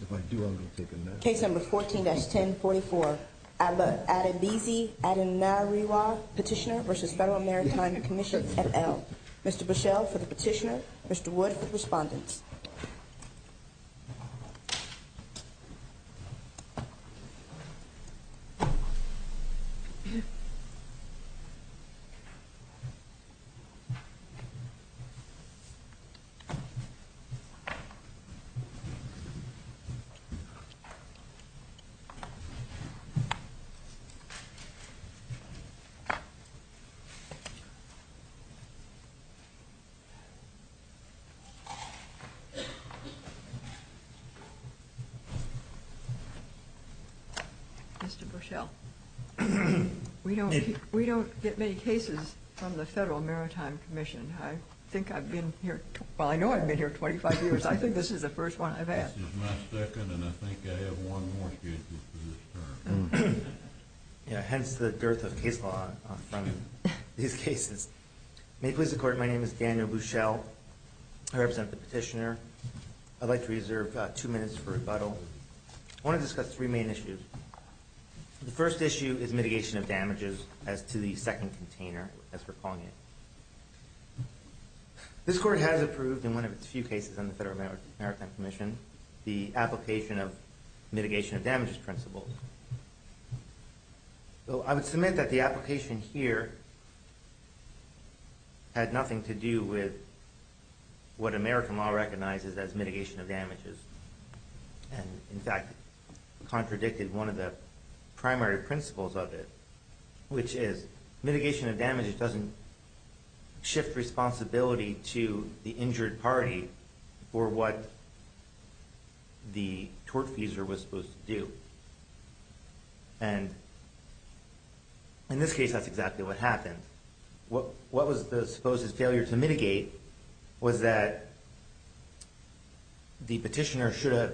If I do, I'm going to take a note. Case number 14-1044, Adebisi Adenariwo, Petitioner versus Federal Maritime Commission, FL. Mr. Bushell for the petitioner, Mr. Wood for the respondents. Mr. Bushell, we don't get many cases from the Federal Maritime Commission. I think I've been here – well, I know I've been here 25 years. I think this is the first one I've had. This is my second and I think I have one more case for this term. Hence the dearth of case law in front of these cases. May it please the Court, my name is Daniel Bushell. I represent the petitioner. I'd like to reserve two minutes for rebuttal. I want to discuss three main issues. The first issue is mitigation of damages as to the second container, as we're calling it. This Court has approved, in one of its few cases on the Federal Maritime Commission, the application of mitigation of damages principles. I would submit that the application here had nothing to do with what American law recognizes as mitigation of damages. In fact, it contradicted one of the primary principles of it, which is mitigation of damages doesn't shift responsibility to the injured party for what the tortfeasor was supposed to do. And in this case, that's exactly what happened. What was the supposed failure to mitigate was that the petitioner should have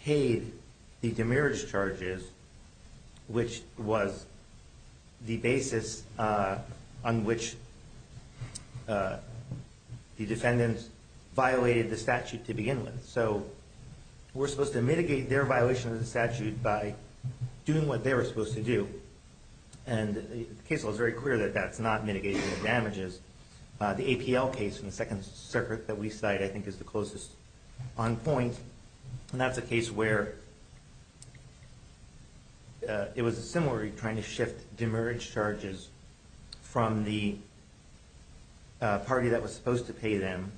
paid the demerit charges, which was the basis on which the defendant violated the statute to begin with. So we're supposed to mitigate their violation of the statute by doing what they were supposed to do. And the case law is very clear that that's not mitigation of damages. The APL case, the second circuit that we cite, I think is the closest on point. And that's a case where it was a similar trying to shift demerit charges from the party that was supposed to pay them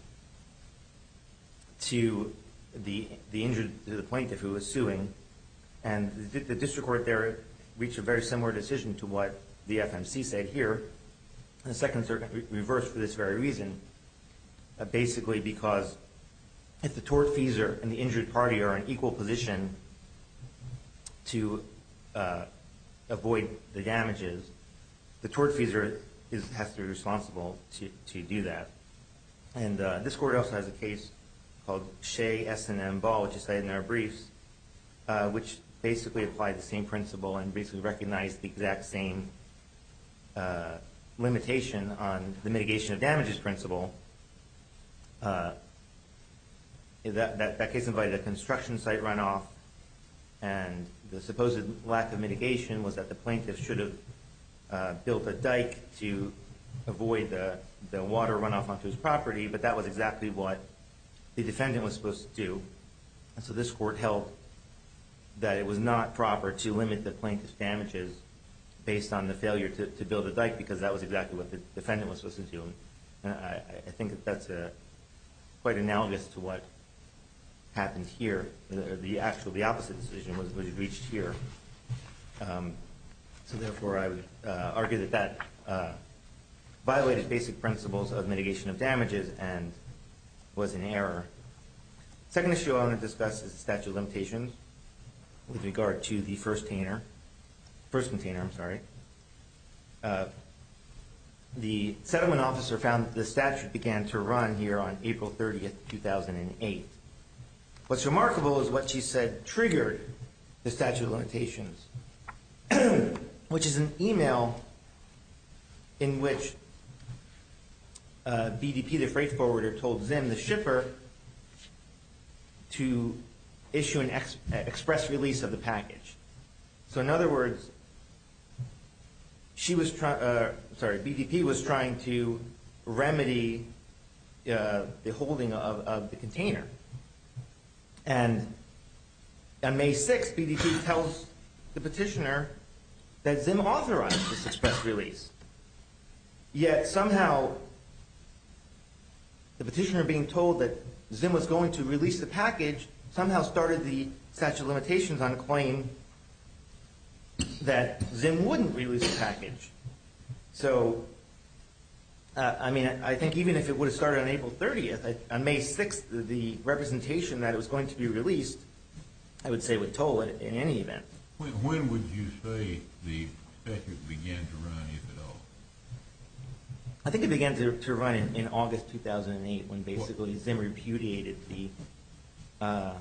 to the injured plaintiff who was suing. And the district court there reached a very similar decision to what the FMC said here. The second circuit reversed for this very reason. Basically because if the tortfeasor and the injured party are in equal position to avoid the damages, the tortfeasor has to be responsible to do that. And this court also has a case called Shea, S&M, Ball, which is cited in our briefs, which basically applied the same principle and basically recognized the exact same limitation on the mitigation of damages principle. That case invited a construction site runoff, and the supposed lack of mitigation was that the plaintiff should have built a dike to avoid the water runoff onto his property, but that was exactly what the defendant was supposed to do. So this court held that it was not proper to limit the plaintiff's damages based on the failure to build a dike because that was exactly what the defendant was supposed to do. I think that's quite analogous to what happened here. The opposite decision was reached here. So therefore, I would argue that that violated basic principles of mitigation of damages and was an error. The second issue I want to discuss is the statute of limitations with regard to the firsttainer. First container, I'm sorry. The settlement officer found that the statute began to run here on April 30, 2008. What's remarkable is what she said triggered the statute of limitations, which is an email in which BDP, the freight forwarder, told ZIM, the shipper, to issue an express release of the package. So in other words, BDP was trying to remedy the holding of the container. And on May 6, BDP tells the petitioner that ZIM authorized this express release. Yet somehow, the petitioner being told that ZIM was going to release the package, somehow started the statute of limitations on the claim that ZIM wouldn't release the package. So, I mean, I think even if it would have started on April 30, on May 6, the representation that it was going to be released, I would say would toll it in any event. When would you say the statute began to run, if at all? I think it began to run in August 2008, when basically ZIM repudiated the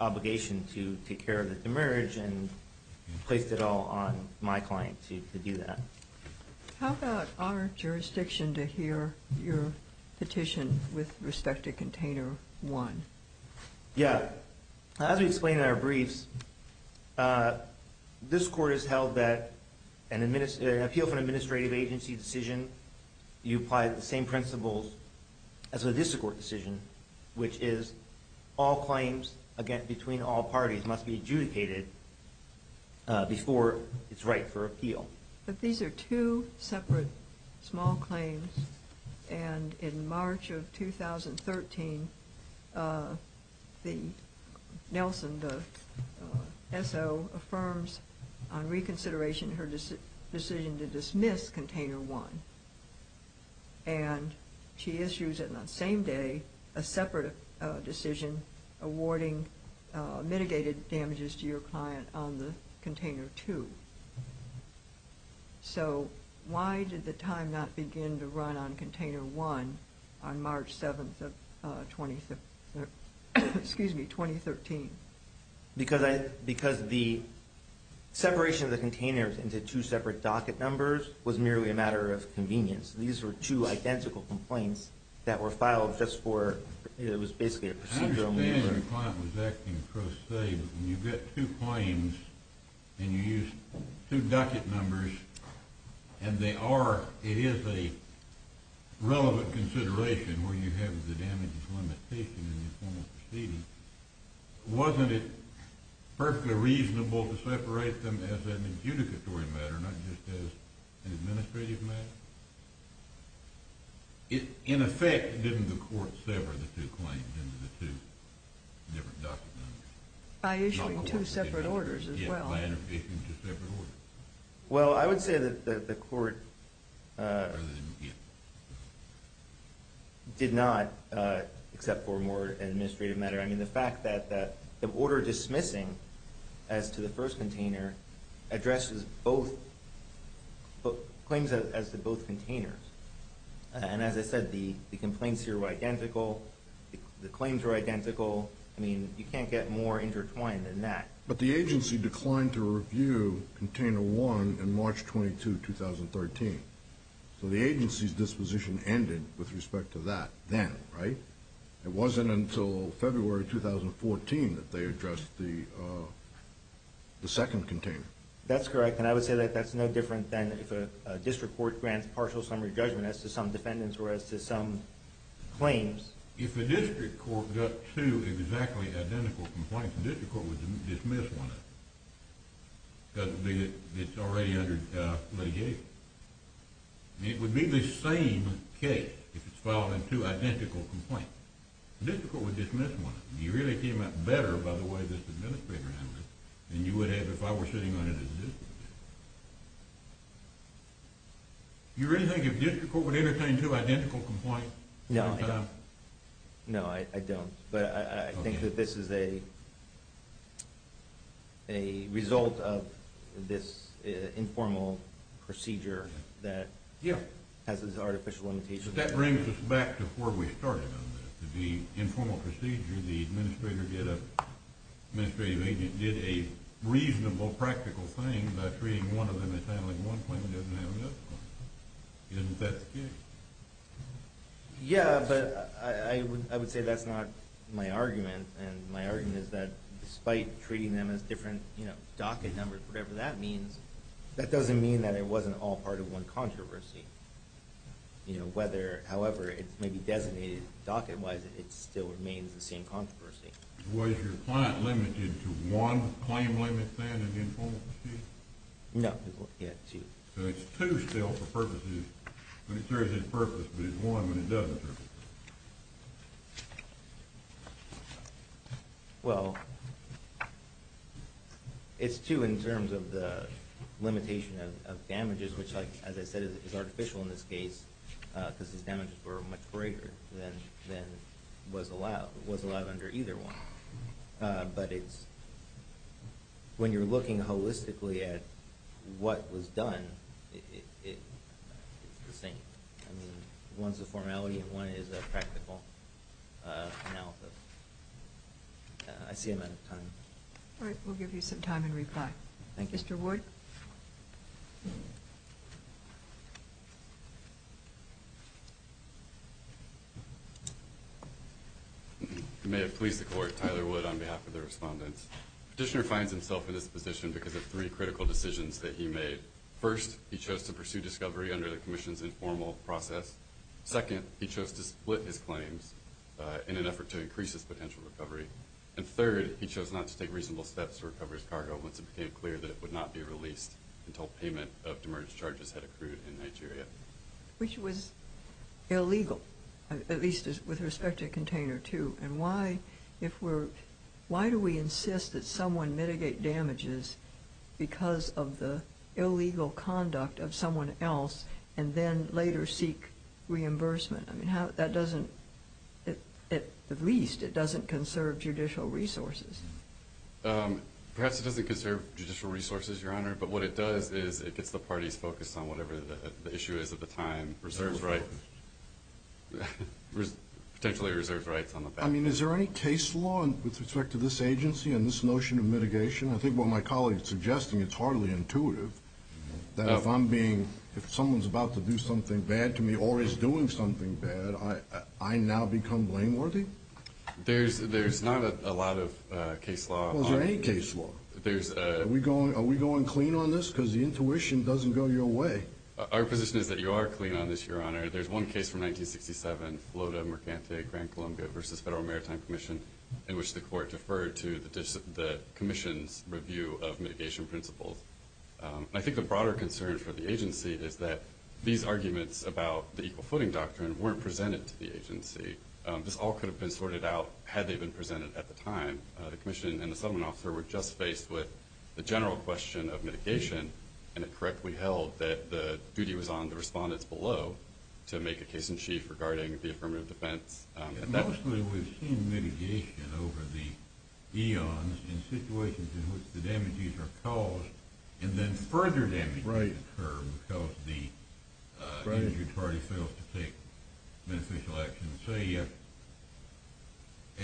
obligation to take care of the demerge and placed it all on my client to do that. How about our jurisdiction to hear your petition with respect to container 1? Yeah. As we explained in our briefs, this Court has held that an appeal for an administrative agency decision, you apply the same principles as a district court decision, which is all claims between all parties must be adjudicated before it's right for appeal. But these are two separate small claims, and in March of 2013, Nelson, the SO, affirms on reconsideration her decision to dismiss container 1. And she issues it on the same day, a separate decision, awarding mitigated damages to your client on the container 2. So, why did the time not begin to run on container 1 on March 7th of 2013? Because the separation of the containers into two separate docket numbers was merely a matter of convenience. These were two identical complaints that were filed just for, it was basically a procedural matter. I understand your client was acting cross-state, and you get two claims, and you use two docket numbers, and they are, it is a relevant consideration where you have the damages limitation in the formal proceeding. Wasn't it perfectly reasonable to separate them as an adjudicatory matter, not just as an administrative matter? In effect, didn't the Court sever the two claims into the two different docket numbers? By issuing two separate orders as well. Well, I would say that the Court did not, except for a more administrative matter. I mean, the fact that the order dismissing as to the first container addresses both, claims as to both containers. And as I said, the complaints here were identical, the claims were identical. I mean, you can't get more intertwined than that. But the agency declined to review container one in March 22, 2013. So the agency's disposition ended with respect to that then, right? It wasn't until February 2014 that they addressed the second container. That's correct, and I would say that that's no different than if a district court grants partial summary judgment as to some defendants or as to some claims. If a district court got two exactly identical complaints, the district court would dismiss one of them, because it's already under litigation. It would be the same case if it's filing two identical complaints. The district court would dismiss one of them. It really came out better by the way this administrator handled it than you would have if I were sitting on it as a district judge. Do you really think a district court would entertain two identical complaints? No, I don't. But I think that this is a result of this informal procedure that has this artificial limitation. But that brings us back to where we started on this. The informal procedure, the administrative agent did a reasonable, practical thing by treating one of them as handling one claim and didn't have another one. Isn't that the case? Yeah, but I would say that's not my argument. And my argument is that despite treating them as different docket numbers, whatever that means, that doesn't mean that it wasn't all part of one controversy. However it may be designated docket-wise, it still remains the same controversy. Was your client limited to one claim limit then in the informal procedure? No, he had two. So it's two still for purposes. It occurs in purpose, but it's one when it doesn't occur. Well, it's two in terms of the limitation of damages, which, as I said, is artificial in this case because his damages were much greater than was allowed under either one. When you're looking holistically at what was done, it's the same. I mean, one's a formality and one is a practical analysis. I see I'm out of time. All right, we'll give you some time and reply. Thank you. Mr. Ward? You may have pleased the court. Tyler Wood on behalf of the respondents. Petitioner finds himself in this position because of three critical decisions that he made. First, he chose to pursue discovery under the commission's informal process. Second, he chose to split his claims in an effort to increase his potential recovery. And third, he chose not to take reasonable steps to recover his cargo once it became clear that it would not be released until payment of demerged charges had accrued in Nigeria. Which was illegal, at least with respect to Container 2. And why do we insist that someone mitigate damages because of the illegal conduct of someone else and then later seek reimbursement? I mean, that doesn't, at the least, it doesn't conserve judicial resources. Perhaps it doesn't conserve judicial resources, Your Honor, but what it does is it gets the parties focused on whatever the issue is at the time, reserves rights, potentially reserves rights on the back end. I mean, is there any case law with respect to this agency and this notion of mitigation? I think what my colleague's suggesting, it's hardly intuitive that if I'm being, if someone's about to do something bad to me or is doing something bad, I now become blameworthy? There's not a lot of case law. Well, is there any case law? Are we going clean on this? Because the intuition doesn't go your way. Our position is that you are clean on this, Your Honor. There's one case from 1967, Loda Mercante Grand Columbia versus Federal Maritime Commission, in which the court deferred to the commission's review of mitigation principles. I think the broader concern for the agency is that these arguments about the equal footing doctrine weren't presented to the agency. This all could have been sorted out had they been presented at the time. The commission and the settlement officer were just faced with the general question of mitigation and it correctly held that the duty was on the respondents below to make a case in chief regarding the affirmative defense. Mostly we've seen mitigation over the eons in situations in which the damages are caused and then further damages occur because the injured party fails to take beneficial action. Say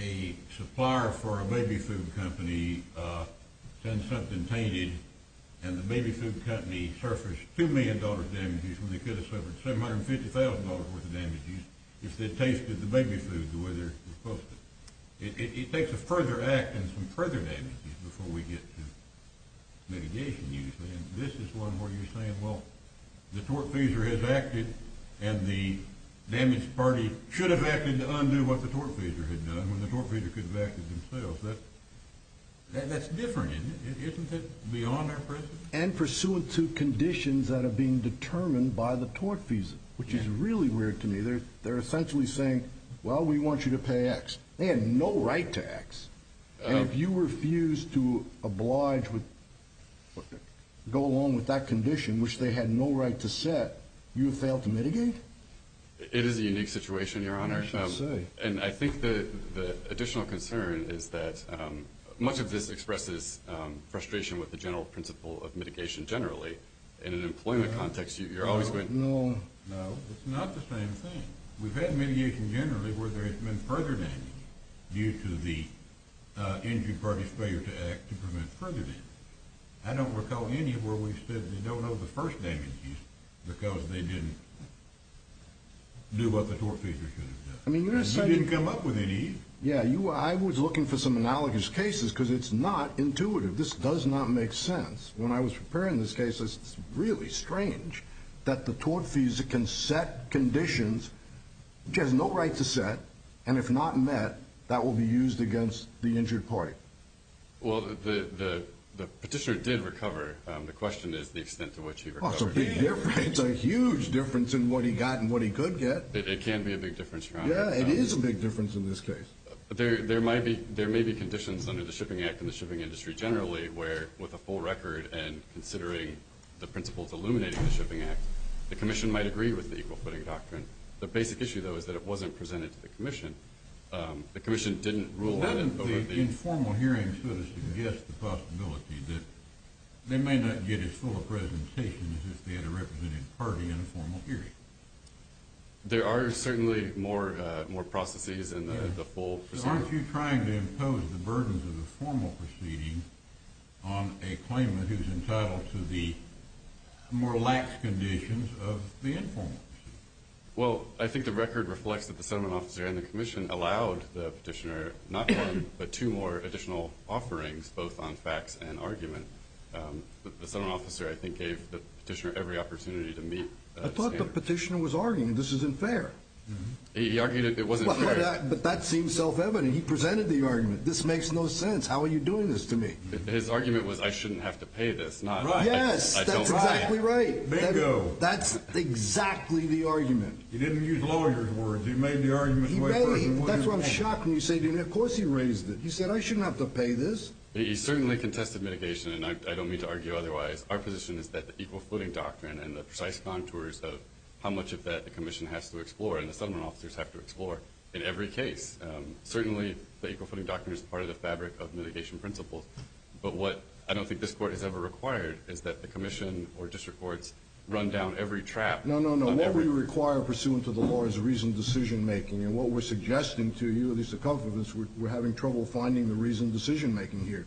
a supplier for a baby food company sends something tainted and the baby food company suffers $2 million damages when they could have suffered $750,000 worth of damages if they tasted the baby food the way they're supposed to. It takes a further act and some further damages before we get to mitigation usually. This is one where you're saying, well, the tortfeasor has acted and the damaged party should have acted to undo what the tortfeasor had done when the tortfeasor could have acted themselves. That's different, isn't it? Isn't it beyond our presence? And pursuant to conditions that are being determined by the tortfeasor, which is really weird to me, they're essentially saying, well, we want you to pay X. They have no right to X. And if you refuse to go along with that condition, which they had no right to set, you have failed to mitigate? It is a unique situation, Your Honor. And I think the additional concern is that much of this expresses frustration with the general principle of mitigation generally. In an employment context, you're always going... No, it's not the same thing. We've had mitigation generally where there has been further damage due to the injured party's failure to act to prevent further damage. I don't recall any where we've said they don't know the first damages because they didn't do what the tortfeasor should have done. You didn't come up with any. Yeah, I was looking for some analogous cases because it's not intuitive. This does not make sense. When I was preparing this case, it's really strange that the tortfeasor can set conditions which he has no right to set, and if not met, that will be used against the injured party. Well, the petitioner did recover. The question is the extent to which he recovered. It's a big difference. It's a huge difference in what he got and what he could get. It can be a big difference, Your Honor. Yeah, it is a big difference in this case. There may be conditions under the Shipping Act in the shipping industry generally where with a full record and considering the principles illuminating the Shipping Act, the Commission might agree with the equal footing doctrine. The basic issue, though, is that it wasn't presented to the Commission. The Commission didn't rule out... Well, then the informal hearing sort of suggests the possibility that they may not get as full a presentation as if they had a representative party in a formal hearing. There are certainly more processes in the full proceeding. Aren't you trying to impose the burdens of the formal proceeding on a claimant who's entitled to the more lax conditions of the informal? Well, I think the record reflects that the Sentiment Officer and the Commission allowed the Petitioner not one, but two more additional offerings both on facts and argument. The Sentiment Officer, I think, gave the Petitioner every opportunity to meet the standard. I thought the Petitioner was arguing this isn't fair. He argued it wasn't fair. But that seems self-evident. He presented the argument. This makes no sense. How are you doing this to me? His argument was I shouldn't have to pay this. Yes, that's exactly right. Bingo. That's exactly the argument. He didn't use lawyers' words. He made the argument way further than what you're saying. That's why I'm shocked when you say of course he raised it. He said I shouldn't have to pay this. He certainly contested mitigation and I don't mean to argue otherwise. Our position is that the Equal Footing Doctrine and the precise contours of how much of that the Commission has to explore and the Sentiment Officers have to explore in every case. Certainly, the Equal Footing Doctrine is part of the fabric of mitigation principles. But what I don't think this Court has ever required is that the Commission or District Courts run down every trap. No, no, no. What we require pursuant to the law is reasoned decision-making. And what we're suggesting to you at least to comfort us we're having trouble finding the reasoned decision-making here.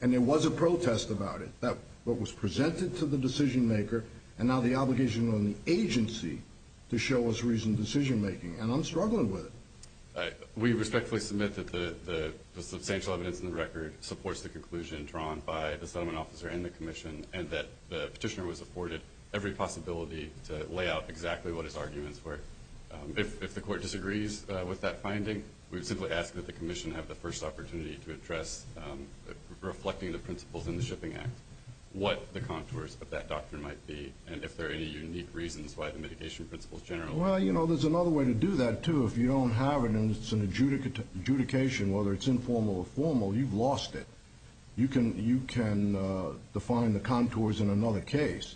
And there was a protest about it. That what was presented to the decision-maker and now the obligation on the agency to show us reasoned decision-making. And I'm struggling with it. We respectfully submit that the substantial evidence in the record supports the conclusion drawn by the Sentiment Officer and the Commission and that the Petitioner was afforded every possibility to lay out exactly what his arguments were. If the Court disagrees with that finding we simply ask that the Commission have the first opportunity to address reflecting the principles in the Shipping Act what the contours of that doctrine might be and if there are any unique reasons why the mitigation principles generally... Well, you know, there's another way to do that too if you don't have it and it's an adjudication whether it's informal or formal you've lost it. You can define the contours in another case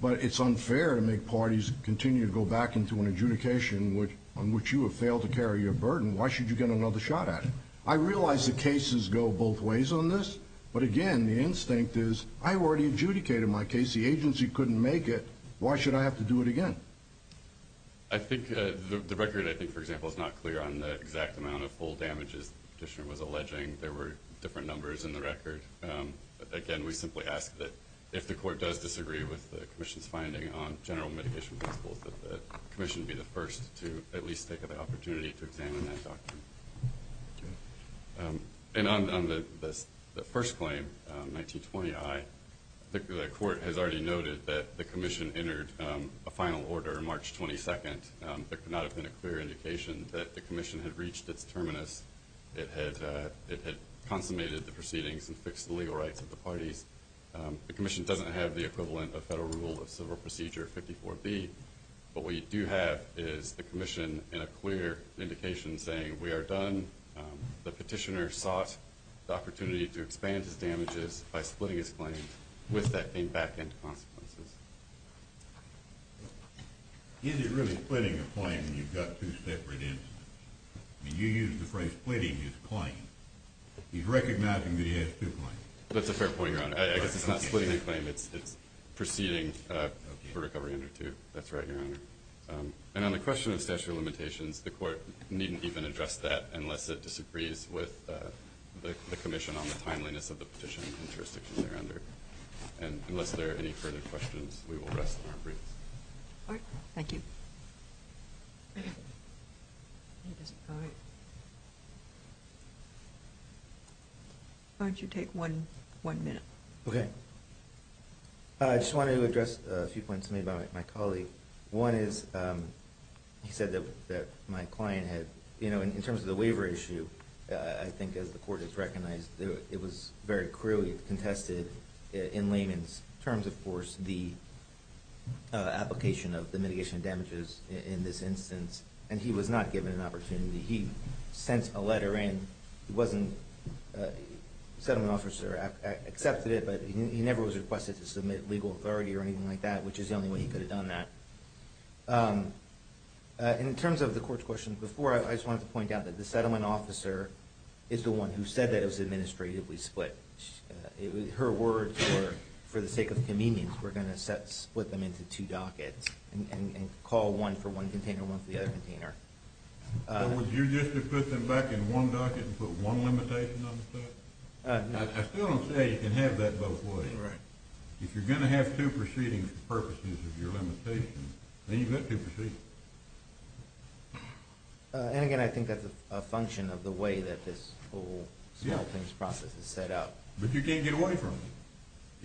but it's unfair to make parties continue to go back into an adjudication on which you have failed to carry your burden why should you get another shot at it? I realize the cases go both ways on this but again the instinct is I already adjudicated my case the agency couldn't make it why should I have to do it again? I think the record I think for example is not clear on the exact amount of full damages the petitioner was alleging there were different numbers in the record but again we simply ask that if the court does disagree with the commission's finding on general mitigation principles that the commission be the first to at least take the opportunity to examine that doctrine and on the first claim 1920 I the court has already noted that the commission entered a final order March 22nd there could not have been a clear indication that the commission had reached its terminus it had consummated the proceedings and fixed the legal rights of the parties the commission doesn't have the equivalent of federal rule of civil procedure 54b what we do have is the commission in a clear indication saying we are done the petitioner sought the opportunity to expand his damages by splitting his claims with that being back end consequences is it really splitting a claim when you've got two separate instances you use the phrase splitting his claim he's recognizing that he has two claims that's a fair point your honor I guess it's not splitting a claim it's proceeding for recovery under two that's right your honor and on the question of statutory limitations the court needn't even address that unless it disagrees with the commission on the timeliness of the petition and jurisdictions they're under and unless there are any further questions we will rest on our briefs alright thank you why don't you take one minute okay I just wanted to address a few points made by my colleague one is he said that my client had you know in terms of the waiver issue I think as the court has recognized it was very clearly contested in layman's terms of course the application of the mitigation damages in this case was requested but he never was requested to submit legal authority or anything like that which is the only way he could have done that in terms of the court's questions before I just wanted to point out that the settlement officer is the one who said that it was administratively split her words were for the sake of convenience were going to split them into two dockets and call one for one container and one for the other container would you just put them back in one docket and put one limitation on the set I still don't say you can have that both ways if you're going to have two proceedings for purposes of your limitation then you have to proceed and again I think that's a function of the way that this whole smelting process is set up but you can't get away from it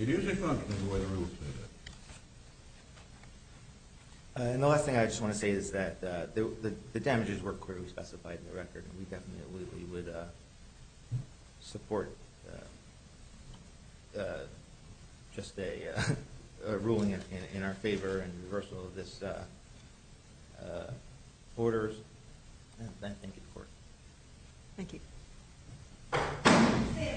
it usually functions the way the rules set up and the last thing I just want to say is that the damages were clearly specified in the record and we definitely would support just a ruling in our favor and reversal of this order and I thank you the court thank you